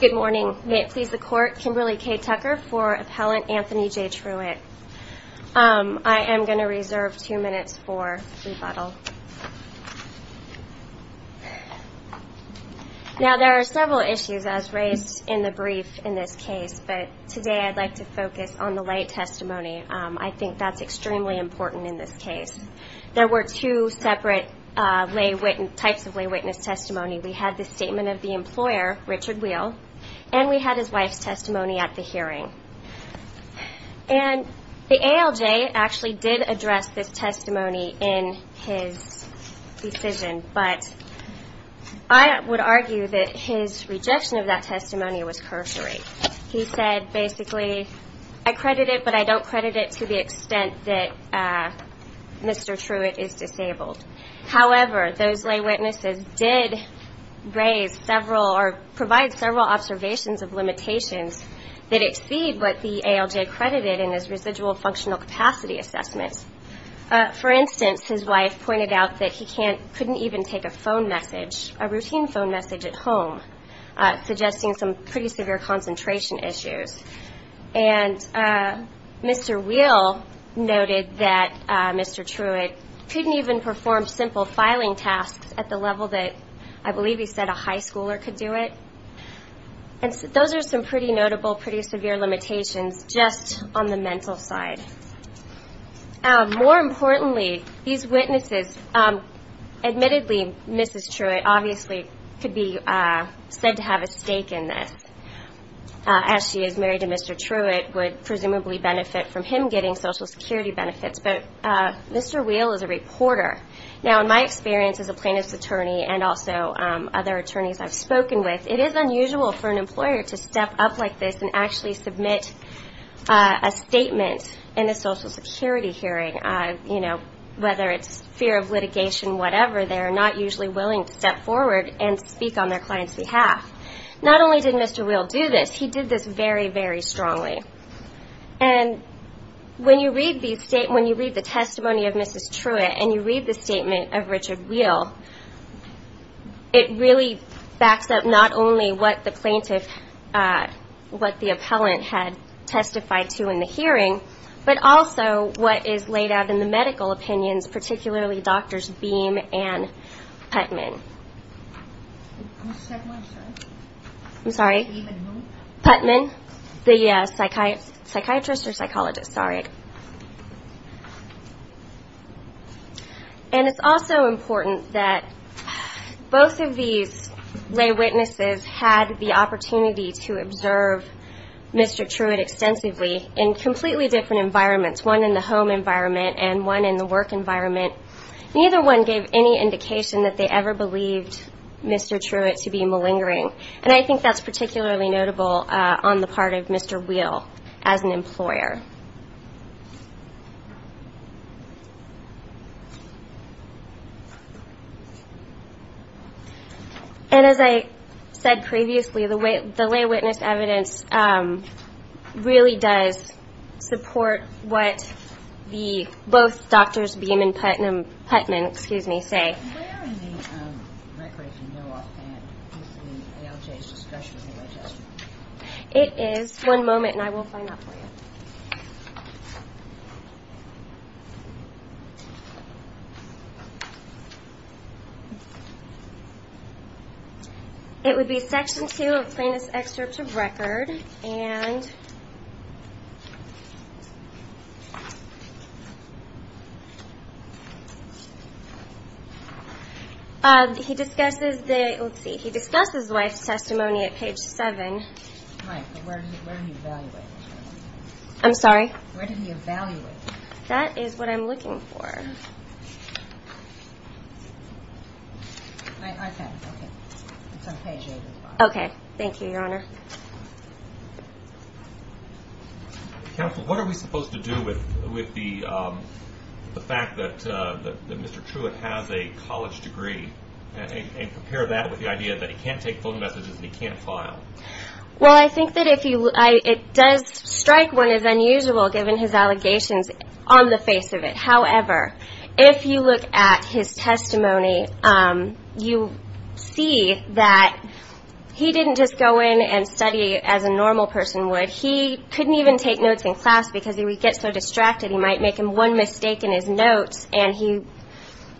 Good morning. May it please the Court, Kimberly K. Tucker for Appellant Anthony J. Truitt. I am going to reserve two minutes for rebuttal. Now, there are several issues as raised in the brief in this case, but today I'd like to focus on the lay testimony. I think that's extremely important in this case. There were two separate types of lay witness testimony. We had the statement of the employer, Richard Wheel, and we had his wife's testimony at the hearing. And the ALJ actually did address this testimony in his decision, but I would argue that his rejection of that testimony was cursory. He said, basically, I credit it, but I don't credit it to the extent that Mr. Truitt is disabled. However, those lay witnesses did raise several or provide several observations of limitations that exceed what the ALJ credited in his residual functional capacity assessment. For instance, his wife pointed out that he couldn't even take a phone message, a routine phone message at home, suggesting some pretty severe concentration issues. And Mr. Wheel noted that Mr. Truitt couldn't even perform simple filing tasks at the level that, I believe, he said a high schooler could do it. And those are some pretty notable, pretty severe limitations just on the mental side. More importantly, these witnesses, admittedly, Mrs. Truitt obviously could be said to have a stake in this, as she is married to Mr. Truitt, would presumably benefit from him getting Social Security benefits. But Mr. Wheel is a reporter. Now, in my experience as a plaintiff's attorney and also other attorneys I've spoken with, it is unusual for an employer to step up like this and actually submit a statement in a Social Security hearing. You know, whether it's fear of litigation, whatever, they're not usually willing to step forward and speak on their client's behalf. Not only did Mr. Wheel do this, he did this very, very strongly. And when you read the testimony of Mrs. Truitt and you read the statement of Richard Wheel, it really backs up not only what the plaintiff, what the appellant had testified to in the hearing, but also what is laid out in the medical opinions, particularly Drs. Beam and Putnam. I'm sorry? Putman? Putman, the psychiatrist or psychologist. Sorry. And it's also important that both of these lay witnesses had the opportunity to observe Mr. Truitt extensively in completely different environments, one in the home environment and one in the work environment. Neither one gave any indication that they ever believed Mr. Truitt to be malingering. And I think that's particularly notable on the part of Mr. Wheel as an employer. And as I said previously, the lay witness evidence really does support what both Drs. Beam and Putman say. Where in the record do you know offhand is the ALJ's discretionary testimony? It is. One moment and I will find out for you. It would be Section 2 of the Plaintiff's Excerpt of Record. And he discusses the, let's see, he discusses the wife's testimony at page 7. Right, but where did he evaluate it? I'm sorry? Where did he evaluate it? That is what I'm looking for. Okay, okay. It's on page 8 as well. Okay. Thank you, Your Honor. Counsel, what are we supposed to do with the fact that Mr. Truitt has a college degree and compare that with the idea that he can't take phone messages and he can't file? Well, I think that it does strike one as unusual given his allegations on the face of it. However, if you look at his testimony, you see that he didn't just go in and study as a normal person would. He couldn't even take notes in class because he would get so distracted. He might make one mistake in his notes and he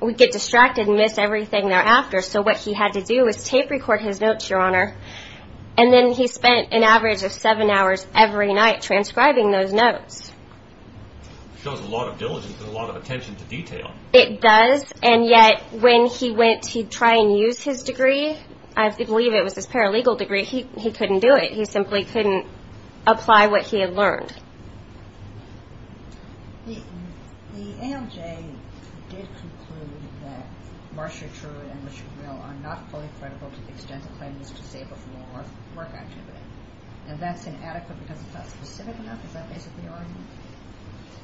would get distracted and miss everything thereafter. So what he had to do was tape record his notes, Your Honor, and then he spent an average of seven hours every night transcribing those notes. Shows a lot of diligence and a lot of attention to detail. It does, and yet when he went to try and use his degree, I believe it was his paralegal degree, he couldn't do it. He simply couldn't apply what he had learned. The ALJ did conclude that Marcia Truitt and Richard Mill are not fully credible to the extent of claims to say before work activity, and that's inadequate because it's not specific enough? Is that basically your argument?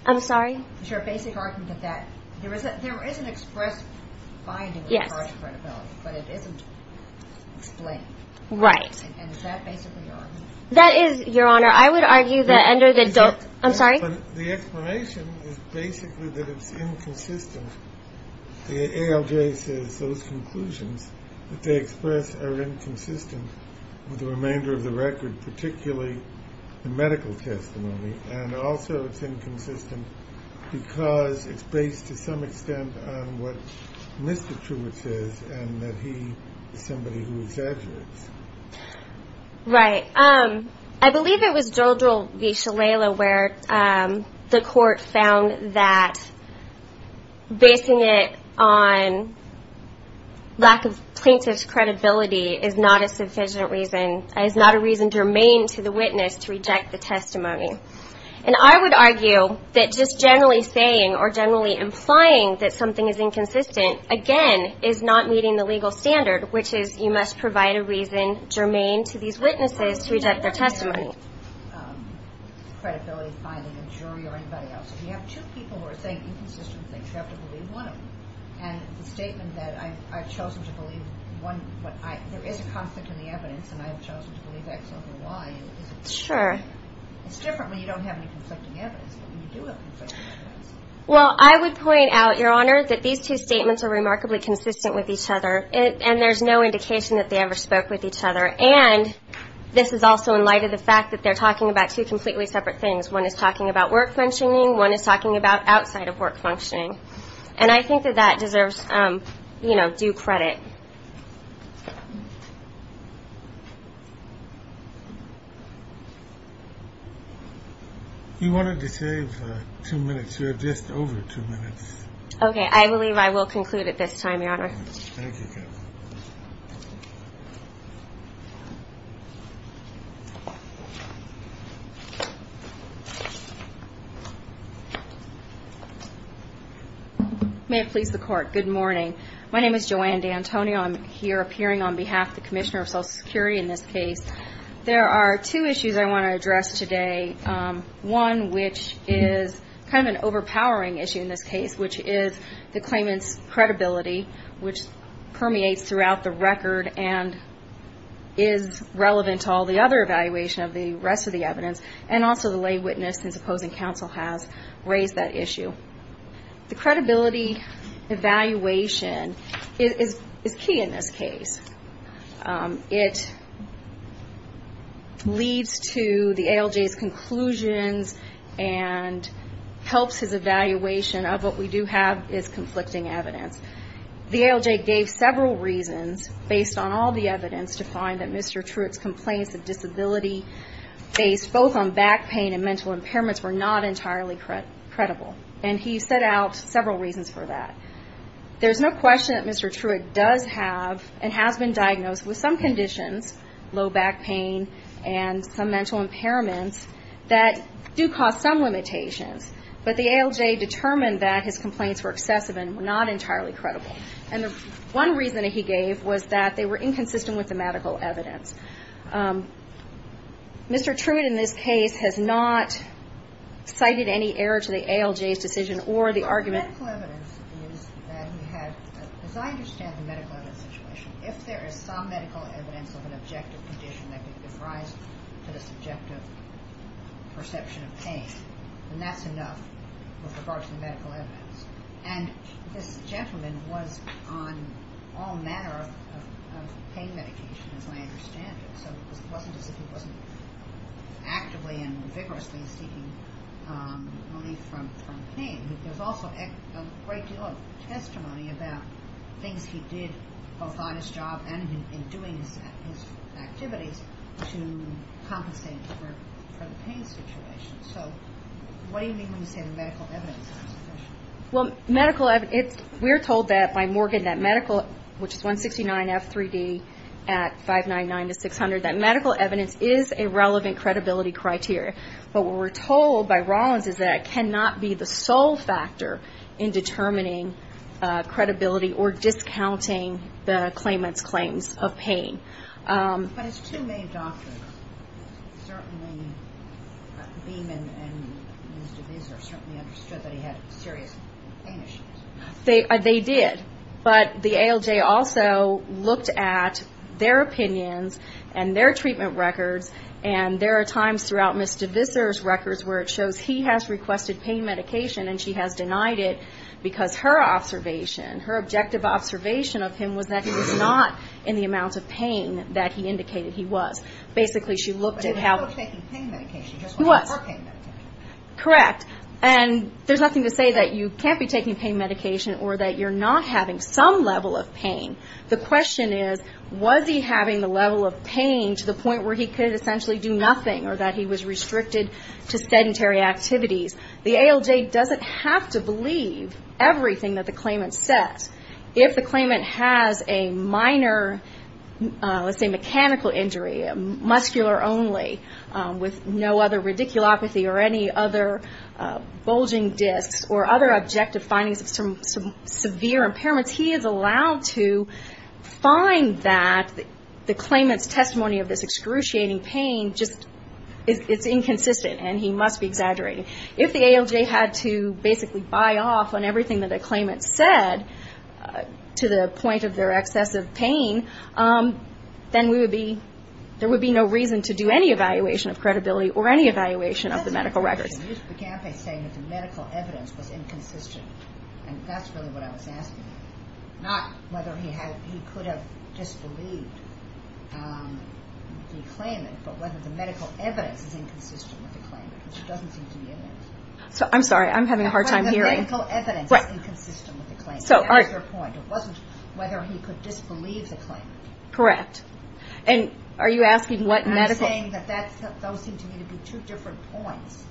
I'm sorry? Is your basic argument that there is an express finding of college credibility, but it isn't explained? Right. And is that basically your argument? That is, Your Honor. I would argue that under the... Is it? I'm sorry? The explanation is basically that it's inconsistent. The ALJ says those conclusions that they express are inconsistent with the remainder of the record, particularly the medical testimony, and also it's inconsistent because it's based to some extent on what Mr. Truitt says and that he is somebody who exaggerates. Right. I believe it was Jodrell v. Shalala where the court found that basing it on lack of plaintiff's credibility is not a sufficient reason, is not a reason to remain to the witness to reject the testimony. And I would argue that just generally saying or generally implying that something is inconsistent, again, is not meeting the legal standard, which is you must provide a reason germane to these witnesses to reject their testimony. Credibility finding a jury or anybody else. If you have two people who are saying inconsistent things, you have to believe one of them. And the statement that I've chosen to believe one, there is a constant in the evidence, and I've chosen to believe X over Y, is it... Sure. It's different when you don't have any conflicting evidence, but when you do have conflicting evidence... Well, I would point out, Your Honor, that these two statements are remarkably consistent with each other, and there's no indication that they ever spoke with each other. And this is also in light of the fact that they're talking about two completely separate things. One is talking about work functioning. One is talking about outside of work functioning. And I think that that deserves, you know, due credit. You wanted to save two minutes. You have just over two minutes. Okay. I believe I will conclude at this time, Your Honor. Thank you. May it please the Court. Good morning. My name is Joanne D'Antonio. I'm here appearing on behalf of the Commissioner of Social Security in this case. There are two issues I want to address today, one which is kind of an overpowering issue in this case, which is the claimant's credibility, which permeates throughout the record and is relevant to all the other evaluation of the rest of the evidence, and also the lay witness and supposing counsel has raised that issue. The credibility evaluation is key in this case. It leads to the ALJ's conclusions and helps his evaluation of what we do have is conflicting evidence. The ALJ gave several reasons, based on all the evidence, to find that Mr. Truitt's complaints of disability based both on back pain and mental impairments were not entirely credible. And he set out several reasons for that. There's no question that Mr. Truitt does have and has been diagnosed with some conditions, low back pain and some mental impairments, that do cause some limitations. But the ALJ determined that his complaints were excessive and were not entirely credible. And one reason he gave was that they were inconsistent with the medical evidence. Mr. Truitt in this case has not cited any error to the ALJ's decision or the argument. The medical evidence is that he had, as I understand the medical evidence situation, if there is some medical evidence of an objective condition that could give rise to this objective perception of pain, then that's enough with regards to the medical evidence. And this gentleman was on all manner of pain medication, as I understand it. So it wasn't as if he wasn't actively and vigorously seeking relief from pain. There's also a great deal of testimony about things he did both on his job and in doing his activities to compensate for the pain situation. So what do you mean when you say the medical evidence is insufficient? Well, medical evidence, we're told by Morgan that medical, which is 169F3D at 599 to 600, that medical evidence is a relevant credibility criteria. But what we're told by Rawlins is that it cannot be the sole factor in determining credibility or discounting the claimant's claims of pain. But as two main doctors, certainly Beeman and Ms. DeVisser certainly understood that he had serious pain issues. They did. But the ALJ also looked at their opinions and their treatment records, and there are times throughout Ms. DeVisser's records where it shows he has requested pain medication and she has denied it because her observation, her objective observation of him was that he was not in the amount of pain that he indicated he was. Basically, she looked at how he was taking pain medication. He was. Correct. And there's nothing to say that you can't be taking pain medication or that you're not having some level of pain. The question is, was he having the level of pain to the point where he could essentially do nothing or that he was restricted to sedentary activities? The ALJ doesn't have to believe everything that the claimant says. If the claimant has a minor, let's say, mechanical injury, muscular only, with no other radiculopathy or any other bulging discs or other objective findings of some severe impairments, he is allowed to find that the claimant's testimony of this excruciating pain is inconsistent, and he must be exaggerating. If the ALJ had to basically buy off on everything that the claimant said to the point of their excessive pain, then there would be no reason to do any evaluation of credibility or any evaluation of the medical records. You began by saying that the medical evidence was inconsistent, and that's really what I was asking. Not whether he could have disbelieved the claimant, but whether the medical evidence is inconsistent with the claimant, because it doesn't seem to be in there. I'm sorry, I'm having a hard time hearing. The medical evidence is inconsistent with the claimant. That was your point. It wasn't whether he could disbelieve the claimant. Correct. And are you asking what medical... You're saying that those seem to me to be two different points,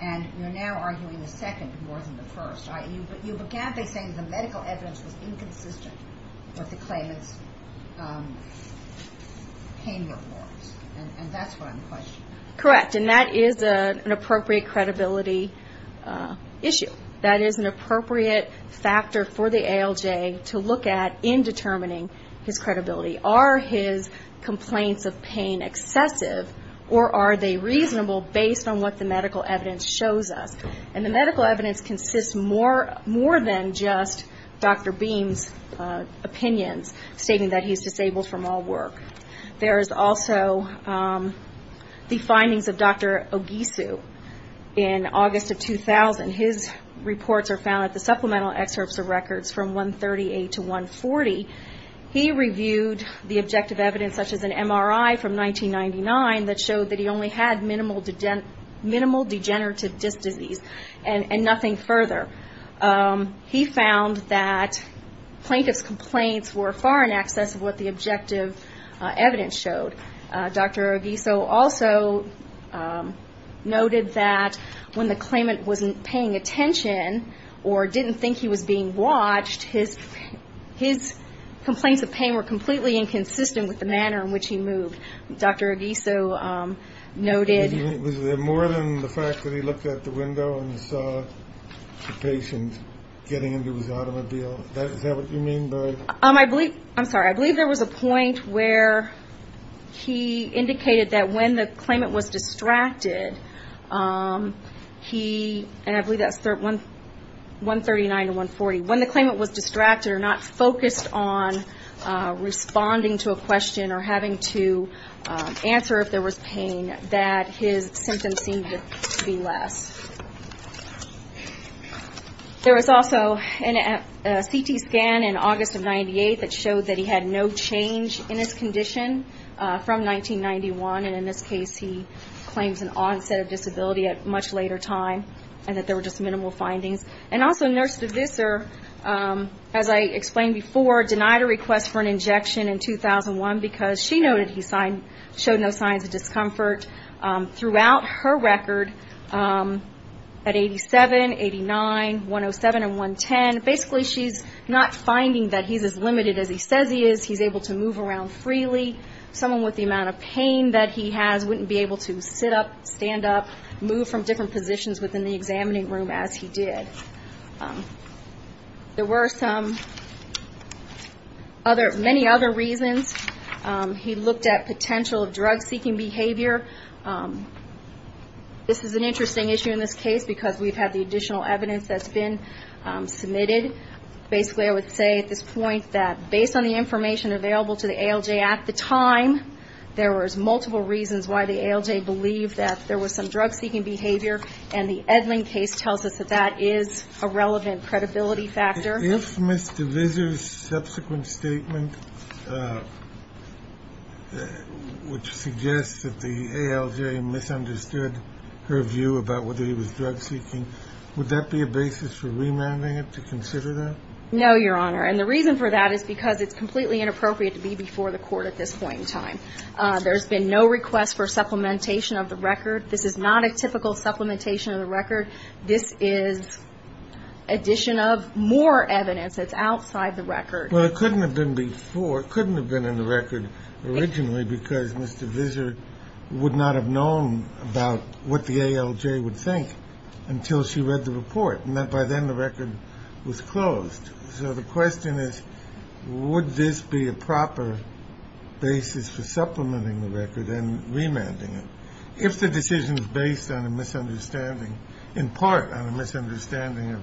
and you're now arguing the second more than the first. You began by saying the medical evidence was inconsistent with the claimant's pain reports, and that's what I'm questioning. Correct, and that is an appropriate credibility issue. That is an appropriate factor for the ALJ to look at in determining his credibility. Are his complaints of pain excessive, or are they reasonable based on what the medical evidence shows us? And the medical evidence consists more than just Dr. Beam's opinions, stating that he's disabled from all work. There is also the findings of Dr. Ogisu in August of 2000. His reports are found at the supplemental excerpts of records from 138 to 140. He reviewed the objective evidence, such as an MRI from 1999, that showed that he only had minimal degenerative disc disease and nothing further. He found that plaintiff's complaints were far in excess of what the objective evidence showed. Dr. Ogisu also noted that when the claimant wasn't paying attention or didn't think he was being watched, his complaints of pain were completely inconsistent with the manner in which he moved. Dr. Ogisu noted- Was there more than the fact that he looked out the window and saw the patient getting into his automobile? Is that what you mean by- I'm sorry. I believe there was a point where he indicated that when the claimant was distracted, and I believe that's 139 to 140, when the claimant was distracted or not focused on responding to a question or having to answer if there was pain, that his symptoms seemed to be less. There was also a CT scan in August of 1998 that showed that he had no change in his condition from 1991, and in this case he claims an onset of disability at a much later time, and that there were just minimal findings. Also, Nurse DeVisser, as I explained before, denied a request for an injection in 2001 because she noted he showed no signs of discomfort. Throughout her record, at 87, 89, 107, and 110, basically she's not finding that he's as limited as he says he is. He's able to move around freely. Someone with the amount of pain that he has wouldn't be able to sit up, stand up, move from different positions within the examining room as he did. There were many other reasons. He looked at potential drug-seeking behavior. This is an interesting issue in this case because we've had the additional evidence that's been submitted. Basically, I would say at this point that based on the information available to the ALJ at the time, there was multiple reasons why the ALJ believed that there was some drug-seeking behavior, and the Edlund case tells us that that is a relevant credibility factor. If Ms. DeVisser's subsequent statement, which suggests that the ALJ misunderstood her view about whether he was drug-seeking, would that be a basis for remanding it to consider that? No, Your Honor, and the reason for that is because it's completely inappropriate to be before the court at this point in time. There's been no request for supplementation of the record. This is not a typical supplementation of the record. This is addition of more evidence that's outside the record. Well, it couldn't have been before. It couldn't have been in the record originally because Ms. DeVisser would not have known about what the ALJ would think until she read the report, and by then the record was closed. So the question is, would this be a proper basis for supplementing the record and remanding it? If the decision is based on a misunderstanding, in part on a misunderstanding of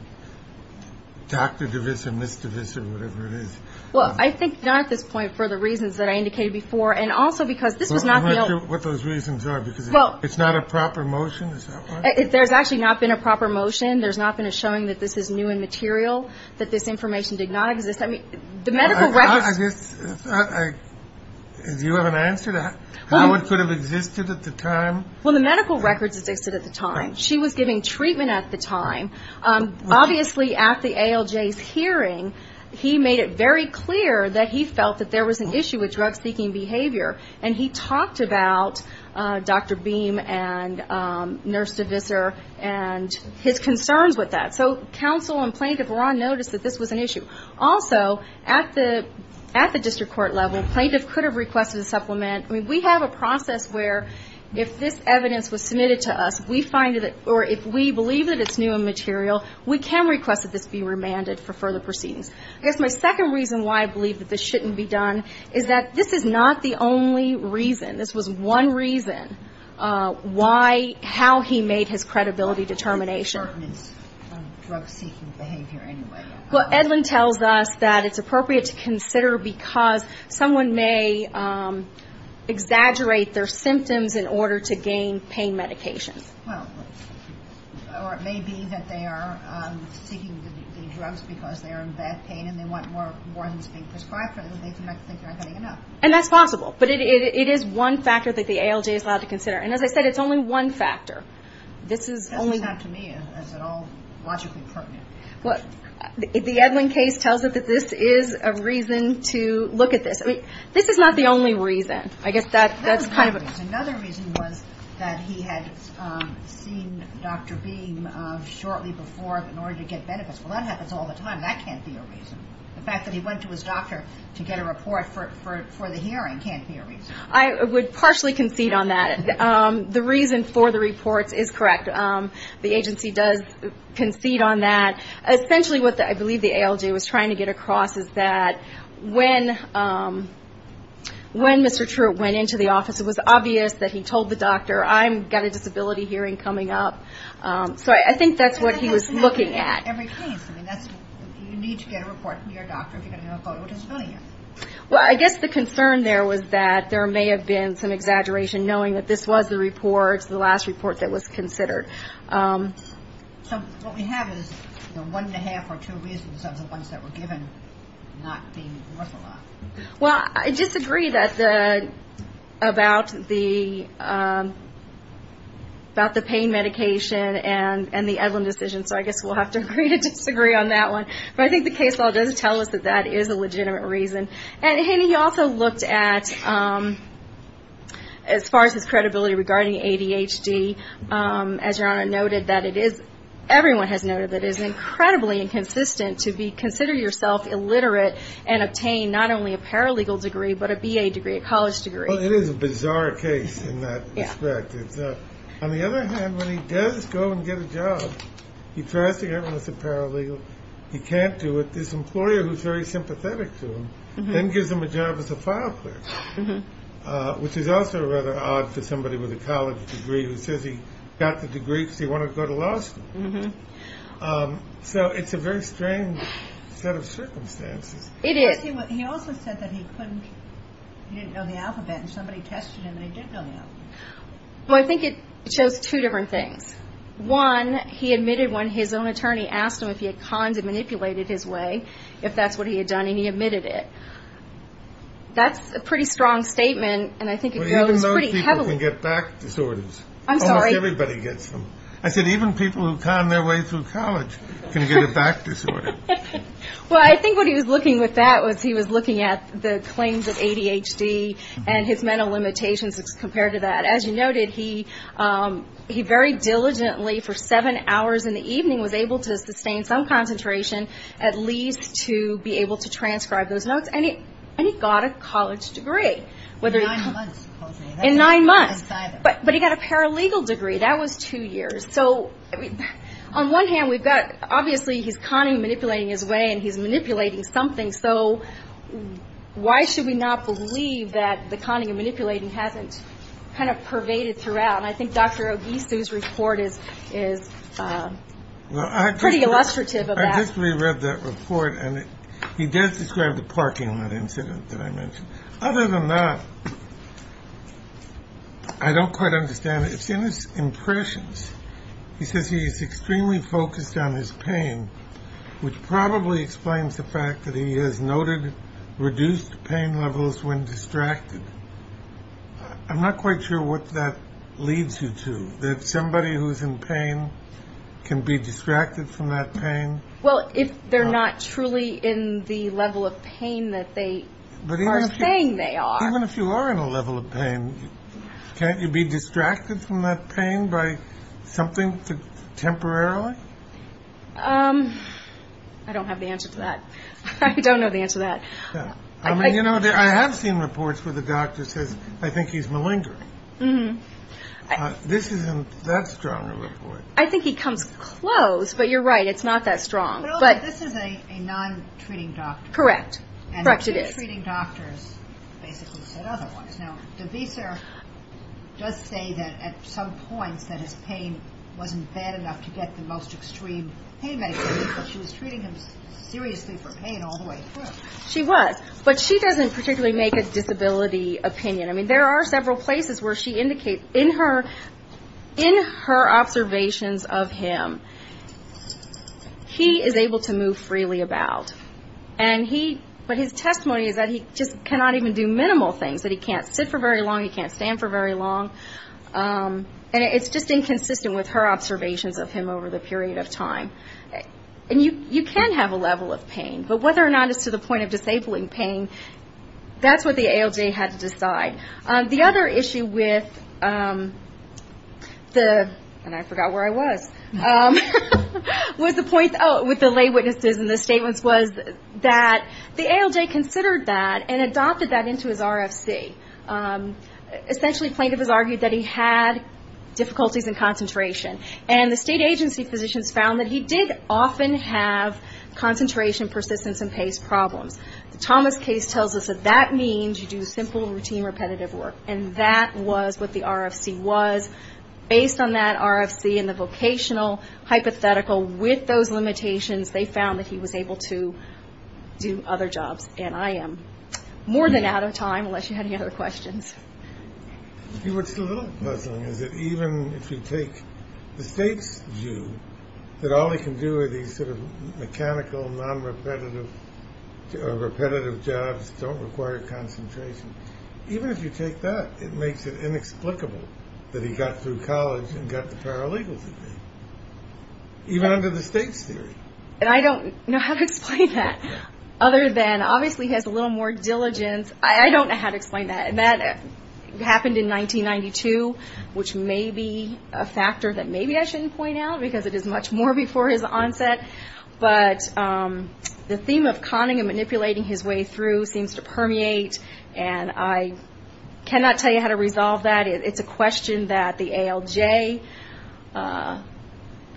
Dr. DeVisser, Ms. DeVisser, whatever it is. Well, I think not at this point for the reasons that I indicated before, and also because this was not the ALJ. Well, I'm not sure what those reasons are because it's not a proper motion, is that right? There's actually not been a proper motion. There's not been a showing that this is new and material, that this information did not exist. I mean, the medical records. Do you have an answer to that? How it could have existed at the time? Well, the medical records existed at the time. She was giving treatment at the time. Obviously, at the ALJ's hearing, he made it very clear that he felt that there was an issue with drug-seeking behavior, and he talked about Dr. Beam and Nurse DeVisser and his concerns with that. So counsel and plaintiff were on notice that this was an issue. Also, at the district court level, plaintiff could have requested a supplement. I mean, we have a process where if this evidence was submitted to us, we find it, or if we believe that it's new and material, we can request that this be remanded for further proceedings. I guess my second reason why I believe that this shouldn't be done is that this is not the only reason. This was one reason why, how he made his credibility determination. It pertains to drug-seeking behavior anyway. Well, Edlin tells us that it's appropriate to consider because someone may exaggerate their symptoms in order to gain pain medications. Or it may be that they are seeking the drugs because they are in bad pain, and they want more than to be prescribed for them, and they think they're not getting enough. And that's possible, but it is one factor that the ALJ is allowed to consider. And as I said, it's only one factor. It doesn't sound to me as at all logically pertinent. The Edlin case tells us that this is a reason to look at this. I mean, this is not the only reason. Another reason was that he had seen Dr. Beam shortly before in order to get benefits. Well, that happens all the time. That can't be a reason. The fact that he went to his doctor to get a report for the hearing can't be a reason. I would partially concede on that. The reason for the reports is correct. The agency does concede on that. Essentially what I believe the ALJ was trying to get across is that when Mr. Truitt went into the office, it was obvious that he told the doctor, I've got a disability hearing coming up. So I think that's what he was looking at. You need to get a report from your doctor if you're going to have a photo disability. Well, I guess the concern there was that there may have been some exaggeration, knowing that this was the report, the last report that was considered. So what we have is one and a half or two reasons of the ones that were given not being worth a lot. Well, I disagree about the pain medication and the Edlin decision, so I guess we'll have to agree to disagree on that one. But I think the case law does tell us that that is a legitimate reason. And he also looked at, as far as his credibility regarding ADHD, as Your Honor noted that it is, everyone has noted, that it is incredibly inconsistent to consider yourself illiterate and obtain not only a paralegal degree but a BA degree, a college degree. Well, it is a bizarre case in that respect. On the other hand, when he does go and get a job, he tries to get one that's a paralegal. He can't do it. But this employer who's very sympathetic to him then gives him a job as a file clerk, which is also rather odd for somebody with a college degree who says he got the degree because he wanted to go to law school. So it's a very strange set of circumstances. It is. He also said that he couldn't, he didn't know the alphabet, and somebody tested him and he didn't know the alphabet. Well, I think it shows two different things. One, he admitted when his own attorney asked him if he had conned and manipulated his way, if that's what he had done, and he admitted it. That's a pretty strong statement, and I think it goes pretty heavily. But even those people can get back disorders. I'm sorry? Almost everybody gets them. I said even people who con their way through college can get a back disorder. Well, I think what he was looking at with that was he was looking at the claims of ADHD and his mental limitations compared to that. But as you noted, he very diligently for seven hours in the evening was able to sustain some concentration at least to be able to transcribe those notes. And he got a college degree. In nine months, supposedly. In nine months. But he got a paralegal degree. That was two years. So on one hand, we've got obviously he's conning and manipulating his way, and he's manipulating something. So why should we not believe that the conning and manipulating hasn't kind of pervaded throughout? And I think Dr. Ogisu's report is pretty illustrative of that. I just reread that report, and he does describe the parking lot incident that I mentioned. Other than that, I don't quite understand it. It's in his impressions. He says he's extremely focused on his pain, which probably explains the fact that he has noted reduced pain levels when distracted. I'm not quite sure what that leads you to, that somebody who's in pain can be distracted from that pain. Well, if they're not truly in the level of pain that they are saying they are. Even if you are in a level of pain, can't you be distracted from that pain by something temporarily? I don't have the answer to that. I don't know the answer to that. I mean, you know, I have seen reports where the doctor says, I think he's malingering. This isn't that strong a report. I think he comes close, but you're right. It's not that strong. But this is a non-treating doctor. Correct. Correct it is. And two treating doctors basically said other ones. Now, DeVisa does say that at some points that his pain wasn't bad enough to get the most extreme pain medication, but she was treating him seriously for pain all the way through. She was. But she doesn't particularly make a disability opinion. I mean, there are several places where she indicates, in her observations of him, he is able to move freely about. But his testimony is that he just cannot even do minimal things, that he can't sit for very long, he can't stand for very long. And it's just inconsistent with her observations of him over the period of time. And you can have a level of pain, but whether or not it's to the point of disabling pain, that's what the ALJ had to decide. The other issue with the, and I forgot where I was, with the lay witnesses and the statements, was that the ALJ considered that and adopted that into his RFC. Essentially, plaintiff has argued that he had difficulties in concentration. And the state agency physicians found that he did often have concentration, persistence, and pace problems. The Thomas case tells us that that means you do simple, routine, repetitive work. And that was what the RFC was. Based on that RFC and the vocational hypothetical, with those limitations, they found that he was able to do other jobs. And I am more than out of time, unless you had any other questions. What's a little puzzling is that even if you take the state's view, that all he can do are these sort of mechanical, non-repetitive, repetitive jobs, don't require concentration. Even if you take that, it makes it inexplicable that he got through college and got the paralegal's degree. Even under the state's theory. And I don't know how to explain that. Other than, obviously, he has a little more diligence. I don't know how to explain that. And that happened in 1992, which may be a factor that maybe I shouldn't point out, because it is much more before his onset. But the theme of conning and manipulating his way through seems to permeate. And I cannot tell you how to resolve that. It's a question that the ALJ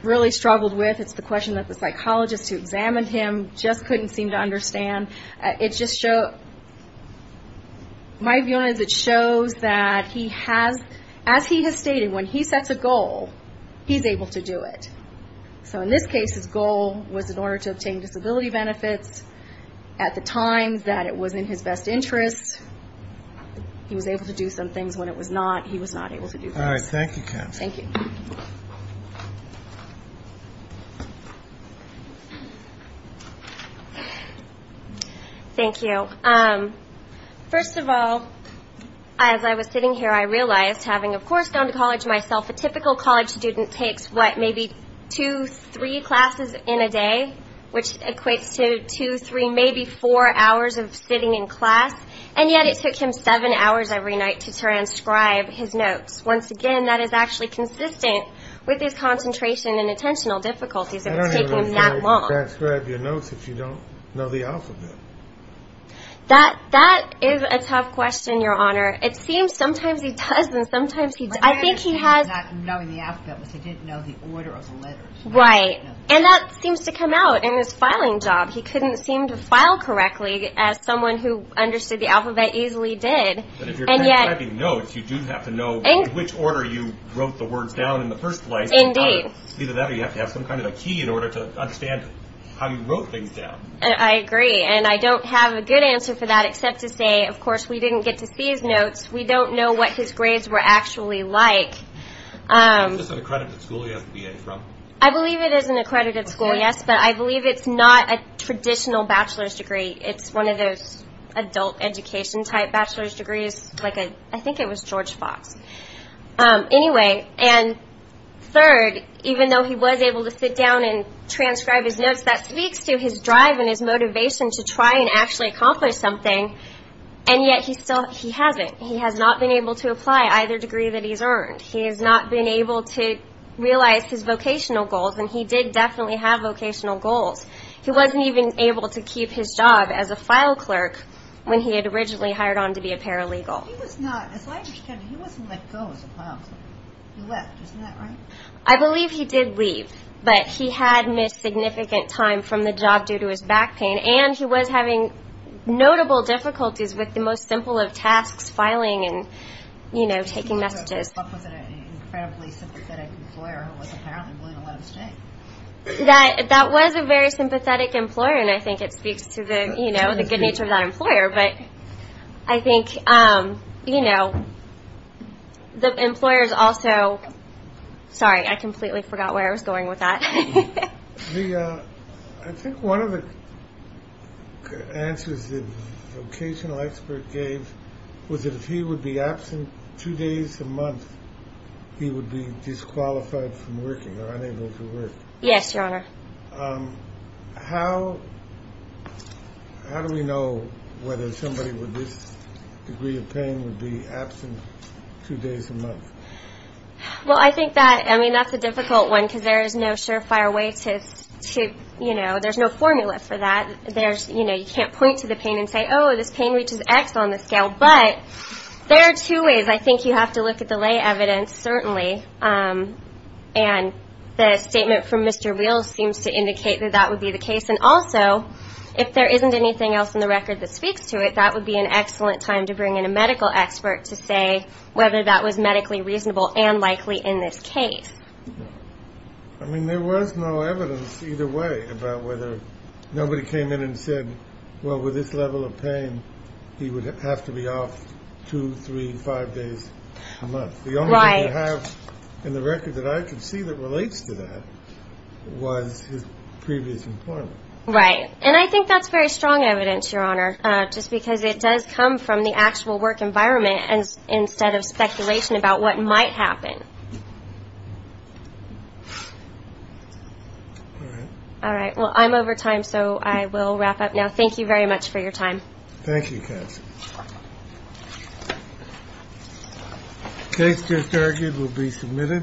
really struggled with. It's the question that the psychologists who examined him just couldn't seem to understand. It just shows that he has, as he has stated, when he sets a goal, he's able to do it. So in this case, his goal was in order to obtain disability benefits. At the time that it was in his best interest, he was able to do some things. When it was not, he was not able to do things. All right. Thank you, Kathy. Thank you. Thank you. First of all, as I was sitting here, I realized, having, of course, gone to college myself, a typical college student takes, what, maybe two, three classes in a day, which equates to two, three, maybe four hours of sitting in class. And yet it took him seven hours every night to transcribe his notes. Once again, that is actually consistent with his concentration and attentional difficulties that it's taking him that long. How do you transcribe your notes if you don't know the alphabet? That is a tough question, Your Honor. It seems sometimes he does and sometimes he doesn't. I think he has. My understanding of not knowing the alphabet was he didn't know the order of the letters. Right. And that seems to come out in his filing job. He couldn't seem to file correctly as someone who understood the alphabet easily did. But if you're transcribing notes, you do have to know in which order you wrote the words down in the first place. Indeed. Either that or you have to have some kind of a key in order to understand how you wrote things down. I agree. And I don't have a good answer for that except to say, of course, we didn't get to see his notes. We don't know what his grades were actually like. Is this an accredited school he has a BA from? I believe it is an accredited school, yes, but I believe it's not a traditional bachelor's degree. It's one of those adult education type bachelor's degrees. I think it was George Fox. Anyway, and third, even though he was able to sit down and transcribe his notes, that speaks to his drive and his motivation to try and actually accomplish something. And yet he hasn't. He has not been able to apply either degree that he's earned. He has not been able to realize his vocational goals, and he did definitely have vocational goals. He wasn't even able to keep his job as a file clerk when he had originally hired on to be a paralegal. He was not. As I understand it, he wasn't let go as a file clerk. He left. Isn't that right? I believe he did leave, but he had missed significant time from the job due to his back pain, and he was having notable difficulties with the most simple of tasks, filing and, you know, taking messages. He was up with an incredibly sympathetic employer who was apparently willing to let him stay. That was a very sympathetic employer, and I think it speaks to the, you know, the good nature of that employer. But I think, you know, the employers also – sorry, I completely forgot where I was going with that. I think one of the answers the vocational expert gave was that if he would be absent two days a month, he would be disqualified from working or unable to work. Yes, Your Honor. How do we know whether somebody with this degree of pain would be absent two days a month? Well, I think that – I mean, that's a difficult one because there is no surefire way to – you know, there's no formula for that. There's – you know, you can't point to the pain and say, oh, this pain reaches X on the scale. But there are two ways. I think you have to look at the lay evidence, certainly, and the statement from Mr. Wills seems to indicate that that would be the case. And also, if there isn't anything else in the record that speaks to it, that would be an excellent time to bring in a medical expert to say whether that was medically reasonable and likely in this case. I mean, there was no evidence either way about whether – nobody came in and said, well, with this level of pain, he would have to be off two, three, five days a month. Right. The only thing you have in the record that I can see that relates to that was his previous employment. Right. And I think that's very strong evidence, Your Honor, just because it does come from the actual work environment instead of speculation about what might happen. All right. All right. Well, I'm over time, so I will wrap up now. Thank you very much for your time. Thank you, Cassie. The case just argued will be submitted.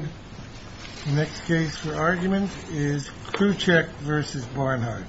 The next case for argument is Khrushchev versus Barnhart. Thank you.